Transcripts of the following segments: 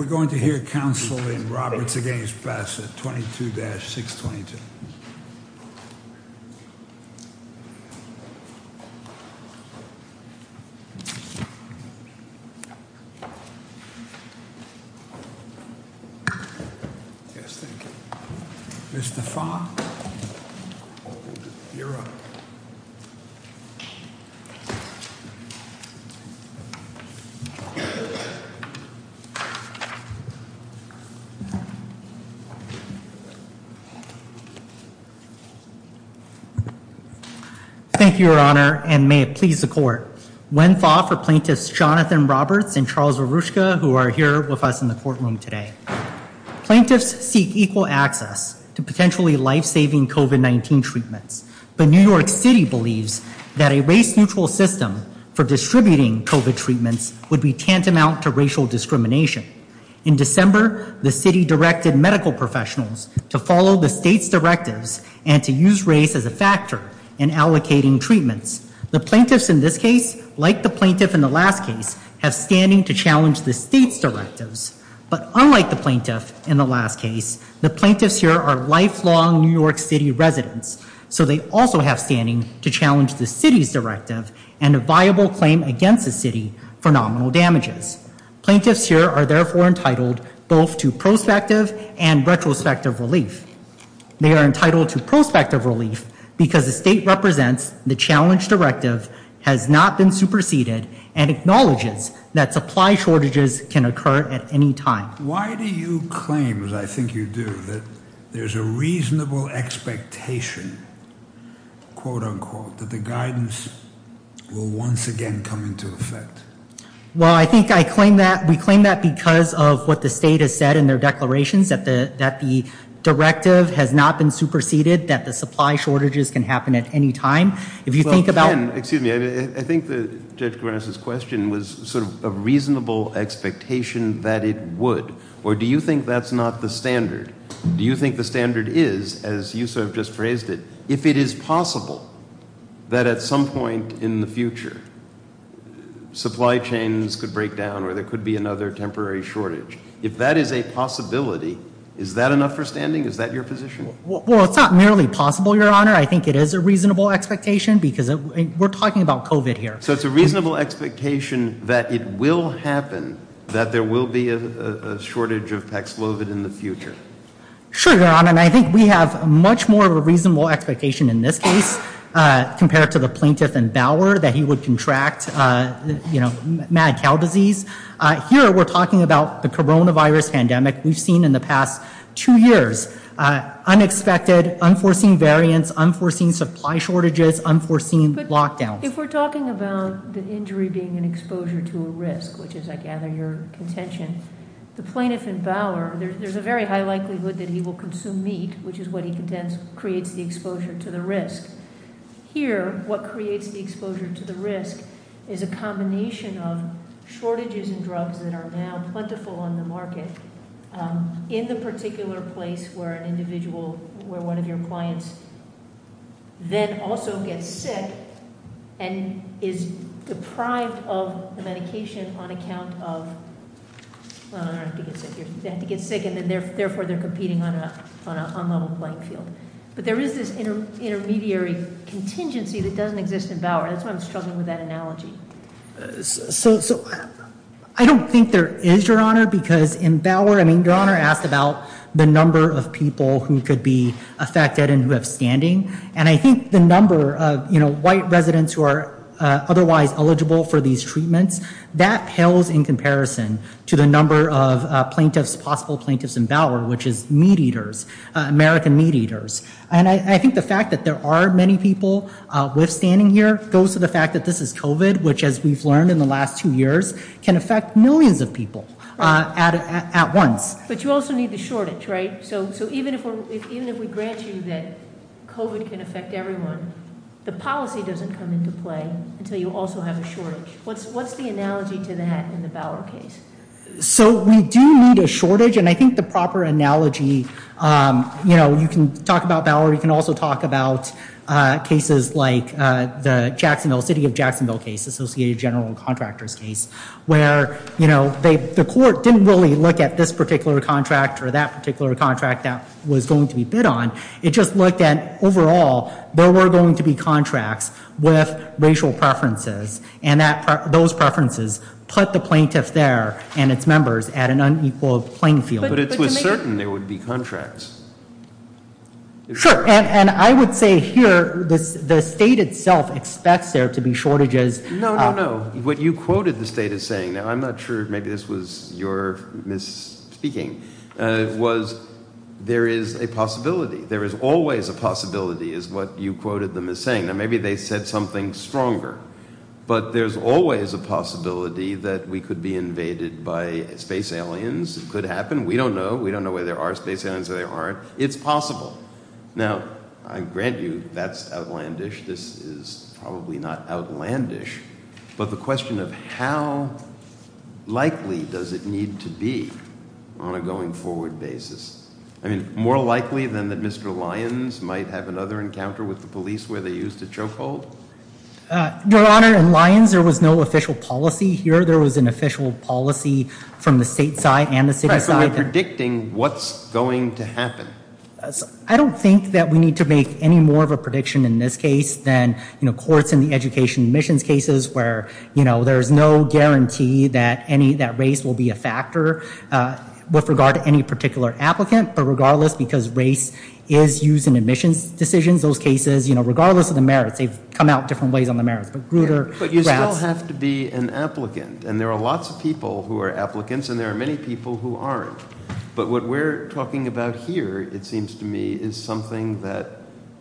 We're going to hear counsel in Roberts v. Bassett, 22-622. Thank you, Your Honor. And may it please the court. When thought for plaintiffs, Jonathan Roberts and Charles Arushka, who are here with us in the courtroom today. Plaintiffs seek equal access to potentially lifesaving COVID-19 treatments. But New York City believes that a race-neutral system for distributing COVID treatments would be tantamount to racial discrimination. In December, the city directed medical professionals to follow the state's directives and to use race as a factor in allocating treatments. The plaintiffs in this case, like the plaintiff in the last case, have standing to challenge the state's directives. But unlike the plaintiff in the last case, the plaintiffs here are lifelong New York City residents. So they also have standing to challenge the city's directive and a viable claim against the city for nominal damages. Plaintiffs here are therefore entitled both to prospective and retrospective relief. They are entitled to prospective relief because the state represents the challenge directive, has not been superseded, and acknowledges that supply shortages can occur at any time. Why do you claim, as I think you do, that there's a reasonable expectation, quote unquote, that the guidance will once again come into effect? Well, I think I claim that, we claim that because of what the state has said in their declarations, that the directive has not been superseded, that the supply shortages can happen at any time. If you think about- Well, Ken, excuse me, I think that Judge Gorenos' question was sort of a reasonable expectation that it would. Do you think the standard is, as you sort of just phrased it, if it is possible that at some point in the future, supply chains could break down or there could be another temporary shortage? If that is a possibility, is that enough for standing? Is that your position? Well, it's not merely possible, Your Honor. I think it is a reasonable expectation because we're talking about COVID here. So it's a reasonable expectation that it will happen, that there will be a shortage of Pax Lovit in the future. Sure, Your Honor, and I think we have much more of a reasonable expectation in this case, compared to the plaintiff in Bauer, that he would contract, you know, mad cow disease. Here, we're talking about the coronavirus pandemic we've seen in the past two years. Unexpected, unforeseen variants, unforeseen supply shortages, unforeseen lockdowns. If we're talking about the injury being an exposure to a risk, which is, I gather, your contention, the plaintiff in Bauer, there's a very high likelihood that he will consume meat, which is what he contends creates the exposure to the risk. Here, what creates the exposure to the risk is a combination of shortages in drugs that are now plentiful on the market in the particular place where an individual, where one of your clients then also gets sick, and is deprived of the medication on account of, well, they don't have to get sick, they have to get sick and therefore they're competing on an unlevel playing field. But there is this intermediary contingency that doesn't exist in Bauer. That's why I'm struggling with that analogy. So, I don't think there is, your honor, because in Bauer, I mean, your honor asked about the number of people who could be affected and who have standing. And I think the number of, you know, white residents who are otherwise eligible for these treatments, that pales in comparison to the number of plaintiffs, possible plaintiffs in Bauer, which is meat eaters, American meat eaters. And I think the fact that there are many people withstanding here goes to the fact that this is COVID, which, as we've learned in the last two years, can affect millions of people at once. But you also need the shortage, right? So even if we grant you that COVID can affect everyone, the policy doesn't come into play until you also have a shortage. What's the analogy to that in the Bauer case? So, we do need a shortage. And I think the proper analogy, you know, you can talk about Bauer. You can also talk about cases like the Jacksonville, City of Jacksonville case, Associated General Contractors case, where, you know, the court didn't really look at this particular contract or that particular contract that was going to be bid on. It just looked at overall, there were going to be contracts with racial preferences. And those preferences put the plaintiffs there and its members at an unequal playing field. But it was certain there would be contracts. Sure. And I would say here, the state itself expects there to be shortages. No, no, no. What you quoted the state as saying, now I'm not sure, maybe this was your misspeaking, was there is a possibility. There is always a possibility, is what you quoted them as saying. Now, maybe they said something stronger. But there's always a possibility that we could be invaded by space aliens. It could happen. We don't know. We don't know where there are space aliens or there aren't. It's possible. Now, I grant you that's outlandish. This is probably not outlandish. But the question of how likely does it need to be on a going forward basis? I mean, more likely than that Mr. Lyons might have another encounter with the police where they used a chokehold? Your Honor, in Lyons, there was no official policy. Here, there was an official policy from the state side and the city side. Right, so we're predicting what's going to happen. I don't think that we need to make any more of a prediction in this case than courts in the education admissions cases, where there's no guarantee that race will be a factor with regard to any particular applicant. But regardless, because race is used in admissions decisions, those cases, regardless of the merits, they've come out different ways on the merits. But you still have to be an applicant, and there are lots of people who are applicants, and there are many people who aren't. But what we're talking about here, it seems to me, is something that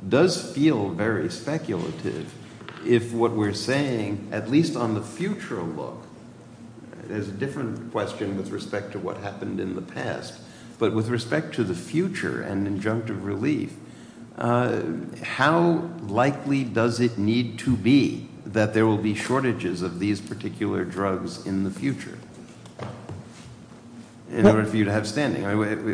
does feel very speculative if what we're saying, at least on the future look, is a different question with respect to what happened in the past. But with respect to the future and injunctive relief, how likely does it need to be that there will be shortages of these particular drugs in the future in order for you to have standing?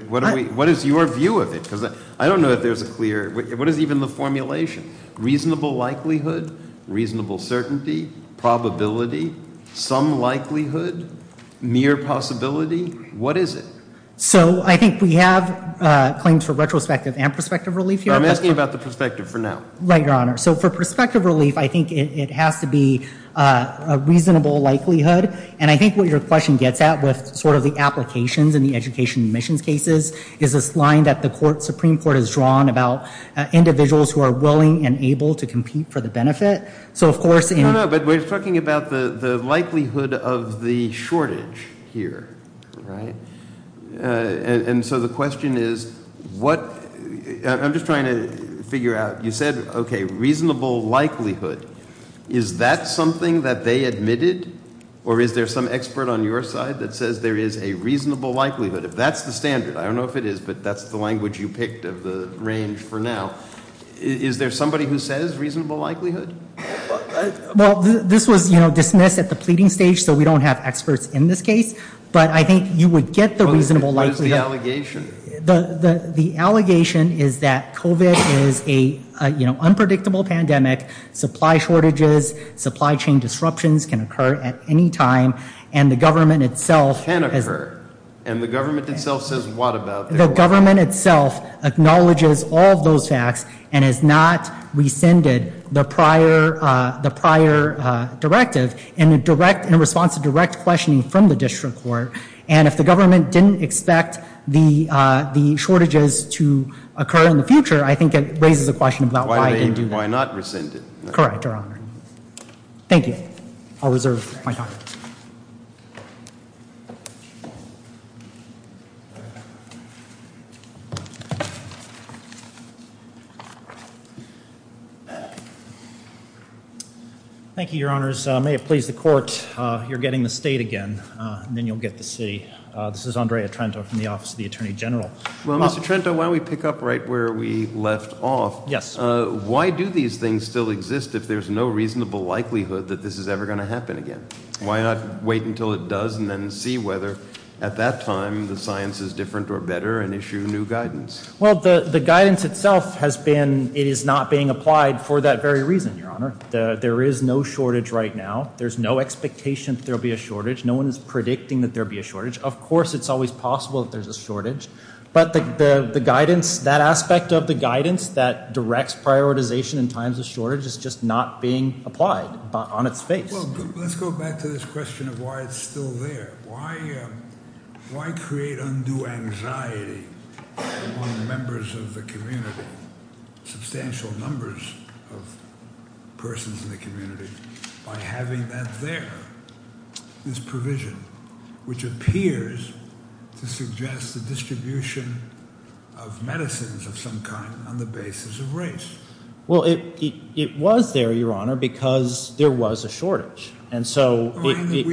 What is your view of it? Because I don't know if there's a clear – what is even the formulation? Reasonable likelihood, reasonable certainty, probability, some likelihood, mere possibility? What is it? So I think we have claims for retrospective and prospective relief here. But I'm asking about the prospective for now. Right, Your Honor. So for prospective relief, I think it has to be a reasonable likelihood. And I think what your question gets at with sort of the applications in the education admissions cases is this line that the Supreme Court has drawn about individuals who are willing and able to compete for the benefit. So, of course – No, no. But we're talking about the likelihood of the shortage here. Right. And so the question is what – I'm just trying to figure out. You said, okay, reasonable likelihood. Is that something that they admitted? Or is there some expert on your side that says there is a reasonable likelihood? If that's the standard – I don't know if it is, but that's the language you picked of the range for now. Is there somebody who says reasonable likelihood? Well, this was dismissed at the pleading stage, so we don't have experts in this case. But I think you would get the reasonable likelihood. What is the allegation? The allegation is that COVID is an unpredictable pandemic. Supply shortages, supply chain disruptions can occur at any time. And the government itself – Can occur. And the government itself says what about that? The government itself acknowledges all of those facts and has not rescinded the prior directive in response to direct questioning from the district court. And if the government didn't expect the shortages to occur in the future, I think it raises a question about why it didn't do that. Why not rescind it? Correct, Your Honor. Thank you. I'll reserve my time. Thank you, Your Honors. May it please the court, you're getting the state again, and then you'll get the city. This is Andrea Trento from the Office of the Attorney General. Well, Mr. Trento, why don't we pick up right where we left off. Yes. Why do these things still exist if there's no reasonable likelihood that this is ever going to happen again? Why not wait until it does and then see whether at that time the science is different or better and issue new guidance? Well, the guidance itself has been it is not being applied for that very reason, Your Honor. There is no shortage right now. There's no expectation that there will be a shortage. No one is predicting that there will be a shortage. Of course it's always possible that there's a shortage. But the guidance, that aspect of the guidance that directs prioritization in times of shortage is just not being applied on its face. Well, let's go back to this question of why it's still there. Why create undue anxiety among members of the community, substantial numbers of persons in the community, by having that there, this provision, which appears to suggest the distribution of medicines of some kind on the basis of race? Well, it was there, Your Honor, because there was a shortage. We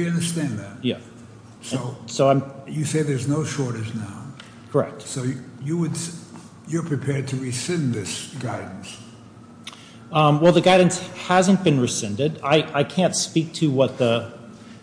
understand that. You say there's no shortage now. Correct. So you're prepared to rescind this guidance? Well, the guidance hasn't been rescinded. I can't speak to what the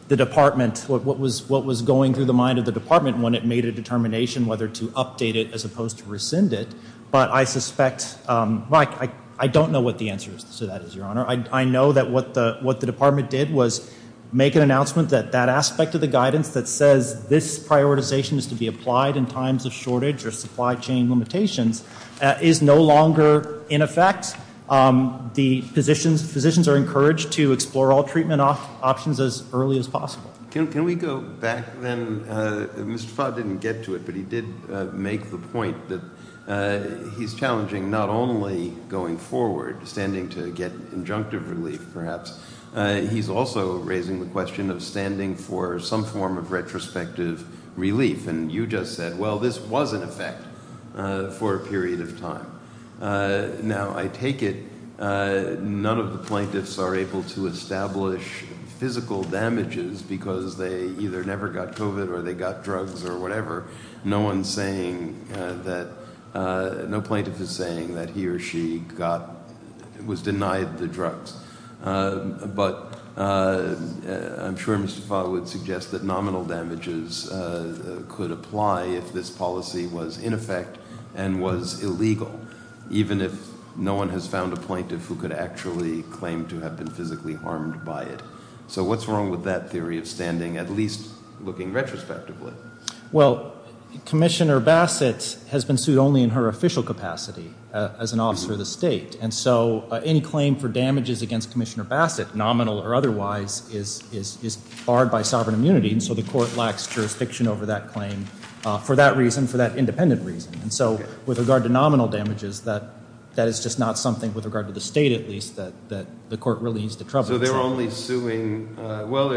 department, what was going through the mind of the department when it made a determination whether to update it as opposed to rescind it. But I suspect, well, I don't know what the answer to that is, Your Honor. I know that what the department did was make an announcement that that aspect of the guidance that says this prioritization is to be applied in times of shortage or supply chain limitations is no longer in effect. The physicians are encouraged to explore all treatment options as early as possible. Can we go back then? Mr. Fott didn't get to it, but he did make the point that he's challenging not only going forward, standing to get injunctive relief, perhaps. He's also raising the question of standing for some form of retrospective relief. And you just said, well, this was in effect for a period of time. Now, I take it none of the plaintiffs are able to establish physical damages because they either never got COVID or they got drugs or whatever. No one's saying that, no plaintiff is saying that he or she was denied the drugs. But I'm sure Mr. Fott would suggest that nominal damages could apply if this policy was in effect and was illegal. Even if no one has found a plaintiff who could actually claim to have been physically harmed by it. So what's wrong with that theory of standing, at least looking retrospectively? Well, Commissioner Bassett has been sued only in her official capacity as an officer of the state. And so any claim for damages against Commissioner Bassett, nominal or otherwise, is barred by sovereign immunity. And so the court lacks jurisdiction over that claim for that reason, for that independent reason. And so with regard to nominal damages, that is just not something, with regard to the state at least, that the court really needs to trouble. So they're only suing, well,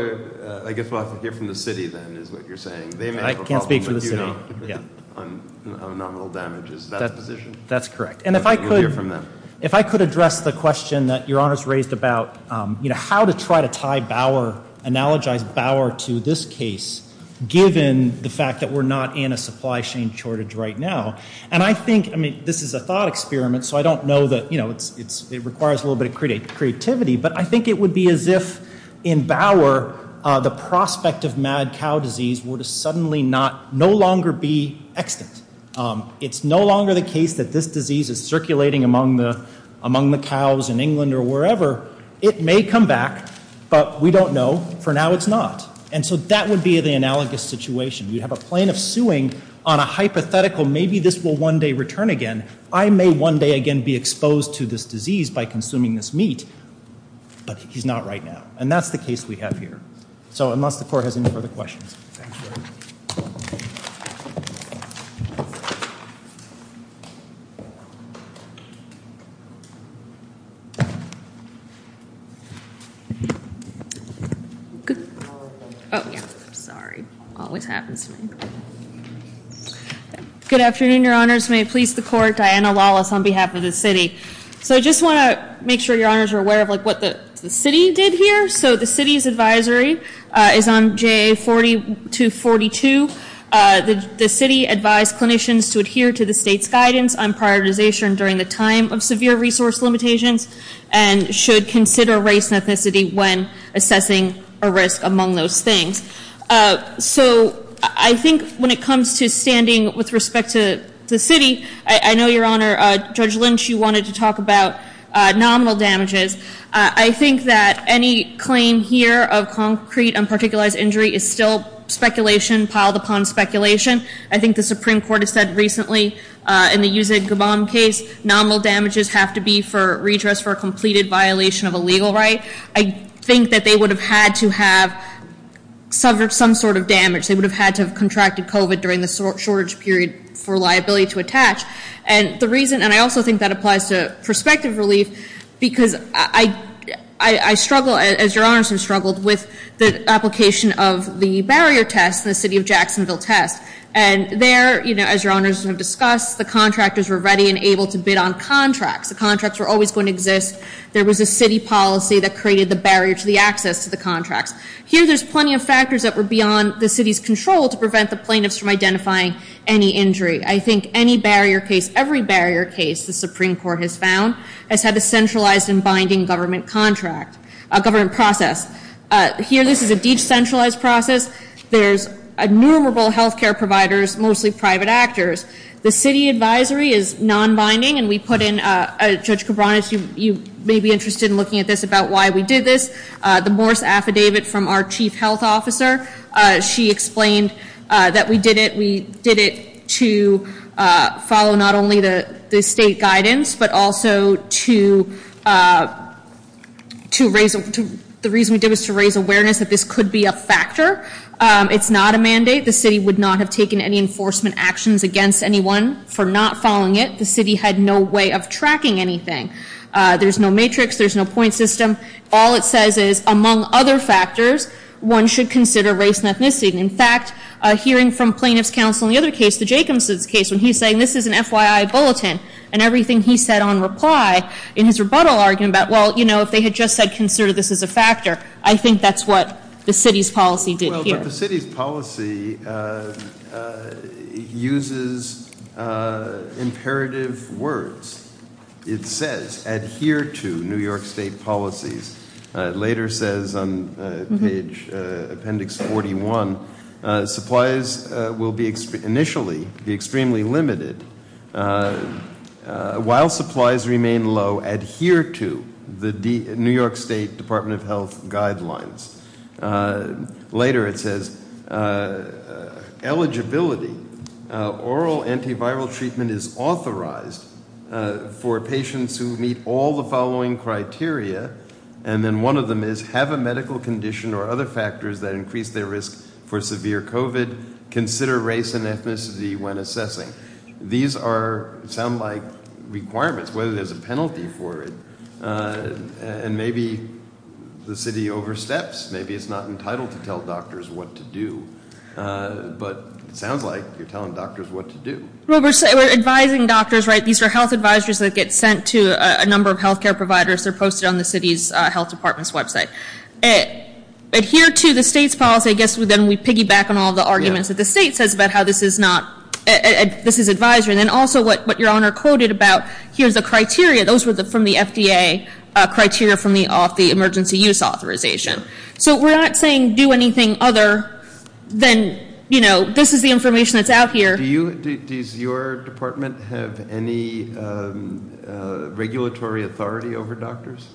I guess we'll have to hear from the city then, is what you're saying. I can't speak for the city, yeah. On nominal damages. That's correct. And if I could- We'll hear from them. If I could address the question that Your Honors raised about how to try to tie Bauer, analogize Bauer to this case, given the fact that we're not in a supply chain shortage right now. And I think, I mean, this is a thought experiment, so I don't know that, you know, it requires a little bit of creativity. But I think it would be as if, in Bauer, the prospect of mad cow disease were to suddenly no longer be extant. It's no longer the case that this disease is circulating among the cows in England or wherever. It may come back, but we don't know. For now, it's not. And so that would be the analogous situation. You'd have a plaintiff suing on a hypothetical, maybe this will one day return again. I may one day again be exposed to this disease by consuming this meat, but he's not right now. And that's the case we have here. So unless the Court has any further questions. Thank you. Oh, yeah, sorry. Always happens to me. Good afternoon, Your Honors. May it please the Court. Diana Lawless on behalf of the city. So I just want to make sure Your Honors are aware of what the city did here. So the city's advisory is on JA 4242. The city advised clinicians to adhere to the state's guidance on prioritization during the time of severe resource limitations and should consider race and ethnicity when assessing a risk among those things. So I think when it comes to standing with respect to the city, I know, Your Honor, Judge Lynch, you wanted to talk about nominal damages. I think that any claim here of concrete unparticularized injury is still speculation piled upon speculation. I think the Supreme Court has said recently in the Yuseg Gabon case, nominal damages have to be for redress for a completed violation of a legal right. I think that they would have had to have suffered some sort of damage. They would have had to have contracted COVID during the shortage period for liability to attach. And the reason, and I also think that applies to prospective relief, because I struggle, as Your Honors have struggled, with the application of the barrier test in the city of Jacksonville test. And there, as Your Honors have discussed, the contractors were ready and able to bid on contracts. The contracts were always going to exist. There was a city policy that created the barrier to the access to the contracts. Here there's plenty of factors that were beyond the city's control to prevent the plaintiffs from identifying any injury. I think any barrier case, every barrier case the Supreme Court has found, has had a centralized and binding government contract, government process. Here this is a decentralized process. There's innumerable health care providers, mostly private actors. The city advisory is nonbinding, and we put in, Judge Cabranes, you may be interested in looking at this about why we did this. The Morse Affidavit from our chief health officer, she explained that we did it. to follow not only the state guidance, but also to raise awareness that this could be a factor. It's not a mandate. The city would not have taken any enforcement actions against anyone for not following it. The city had no way of tracking anything. There's no matrix. There's no point system. All it says is, among other factors, one should consider race and ethnicity. And in fact, hearing from plaintiff's counsel in the other case, the Jacobson's case, when he's saying this is an FYI bulletin, and everything he said on reply in his rebuttal argument about, well, if they had just said consider this as a factor, I think that's what the city's policy did here. Well, but the city's policy uses imperative words. It says adhere to New York State policies. It later says on page appendix 41, supplies will initially be extremely limited. While supplies remain low, adhere to the New York State Department of Health guidelines. Later it says eligibility, oral antiviral treatment is authorized for patients who meet all the following criteria, and then one of them is have a medical condition or other factors that increase their risk for severe COVID. Consider race and ethnicity when assessing. These sound like requirements, whether there's a penalty for it. And maybe the city oversteps. Maybe it's not entitled to tell doctors what to do. But it sounds like you're telling doctors what to do. Well, we're advising doctors, right? These are health advisories that get sent to a number of health care providers. They're posted on the city's health department's website. Adhere to the state's policy. I guess then we piggyback on all the arguments that the state says about how this is not, this is advisory. And then also what your honor quoted about, here's the criteria. Those were from the FDA criteria from the emergency use authorization. So we're not saying do anything other than, you know, this is the information that's out here. Does your department have any regulatory authority over doctors?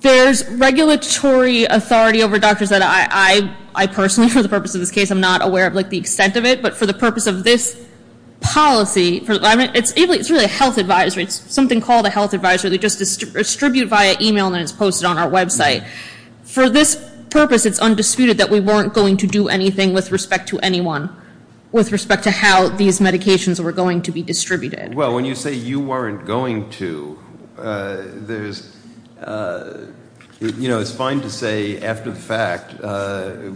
There's regulatory authority over doctors that I personally, for the purpose of this case, I'm not aware of the extent of it. But for the purpose of this policy, it's really a health advisory. It's something called a health advisory. They just distribute via e-mail, and then it's posted on our website. For this purpose, it's undisputed that we weren't going to do anything with respect to anyone, with respect to how these medications were going to be distributed. Well, when you say you weren't going to, there's, you know, it's fine to say after the fact,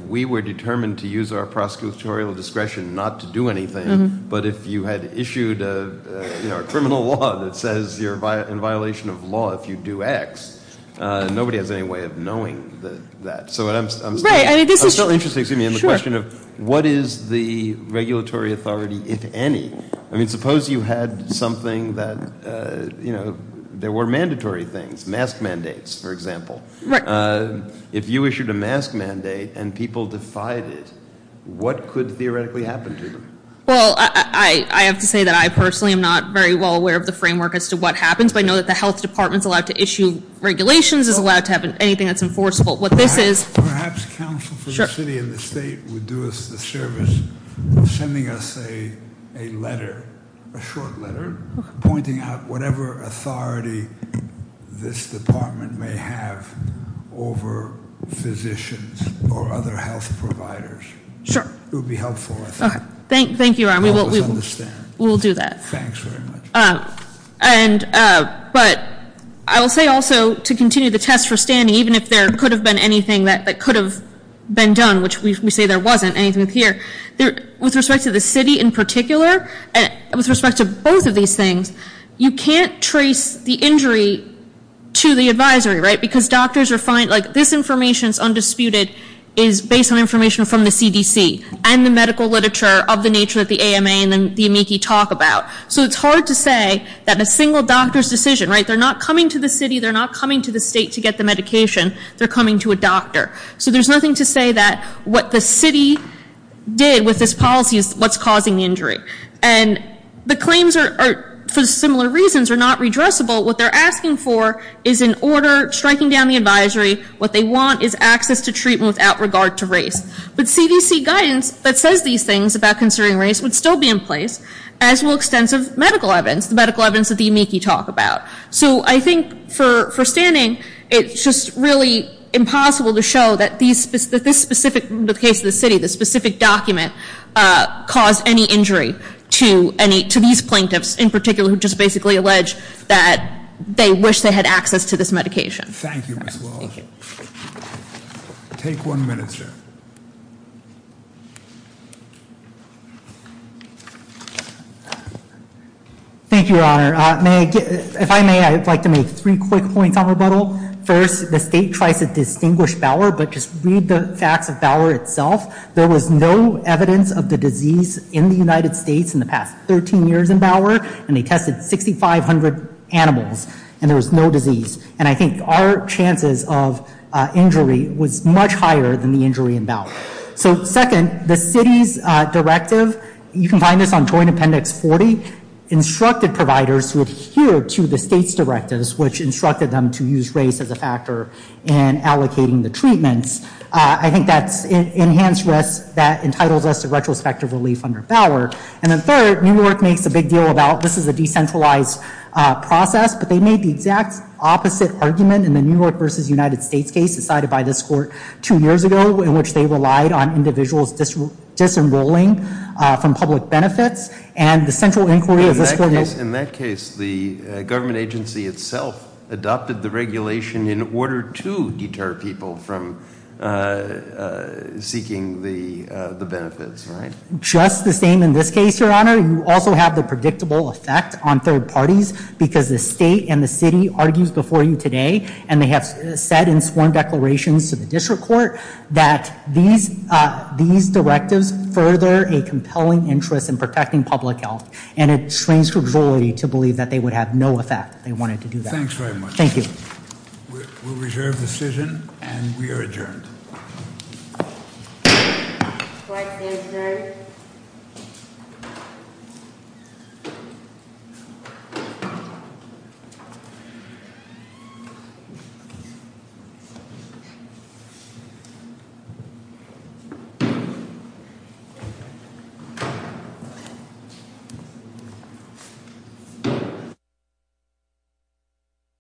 we were determined to use our prosecutorial discretion not to do anything. But if you had issued a criminal law that says you're in violation of law if you do X, nobody has any way of knowing that. I'm still interested in the question of what is the regulatory authority, if any? I mean, suppose you had something that, you know, there were mandatory things, mask mandates, for example. If you issued a mask mandate and people defied it, what could theoretically happen to them? Well, I have to say that I personally am not very well aware of the framework as to what happens, but I know that the health department is allowed to issue regulations, is allowed to have anything that's enforceable. What this is- Perhaps counsel for the city and the state would do us the service of sending us a letter, a short letter, pointing out whatever authority this department may have over physicians or other health providers. Sure. It would be helpful, I think. Thank you, Ron. We will do that. Thanks very much. But I will say also to continue the test for standing, even if there could have been anything that could have been done, which we say there wasn't anything here, with respect to the city in particular, with respect to both of these things, you can't trace the injury to the advisory, right? Because doctors are finding, like, this information is undisputed, is based on information from the CDC and the medical literature of the nature of the AMA and the amici talk about. So it's hard to say that a single doctor's decision, right? They're not coming to the city. They're not coming to the state to get the medication. They're coming to a doctor. So there's nothing to say that what the city did with this policy is what's causing the injury. And the claims are, for similar reasons, are not redressable. What they're asking for is an order striking down the advisory. What they want is access to treatment without regard to race. But CDC guidance that says these things about concerning race would still be in place, as will extensive medical evidence, the medical evidence that the amici talk about. So I think for standing, it's just really impossible to show that this specific, in the case of the city, this specific document caused any injury to these plaintiffs, in particular, who just basically allege that they wish they had access to this medication. Thank you, Ms. Walsh. Take one minute, sir. Thank you, Your Honor. If I may, I'd like to make three quick points on rebuttal. First, the state tries to distinguish Bauer, but just read the facts of Bauer itself. There was no evidence of the disease in the United States in the past 13 years in Bauer, and they tested 6,500 animals, and there was no disease. And I think our chances of injury was much higher than the injury in Bauer. So second, the city's directive, you can find this on Joint Appendix 40, instructed providers to adhere to the state's directives, which instructed them to use race as a factor in allocating the treatments. I think that's enhanced risk that entitles us to retrospective relief under Bauer. And then third, New York makes a big deal about this is a decentralized process, but they made the exact opposite argument in the New York v. United States case decided by this court two years ago in which they relied on individuals disenrolling from public benefits. And the central inquiry of this court is- In that case, the government agency itself adopted the regulation in order to deter people from seeking the benefits, right? Just the same in this case, Your Honor. You also have the predictable effect on third parties because the state and the city argues before you today, and they have said in sworn declarations to the district court that these directives further a compelling interest in protecting public health. And it strains the authority to believe that they would have no effect if they wanted to do that. Thanks very much. Thank you. We'll reserve the decision, and we are adjourned. Court is adjourned.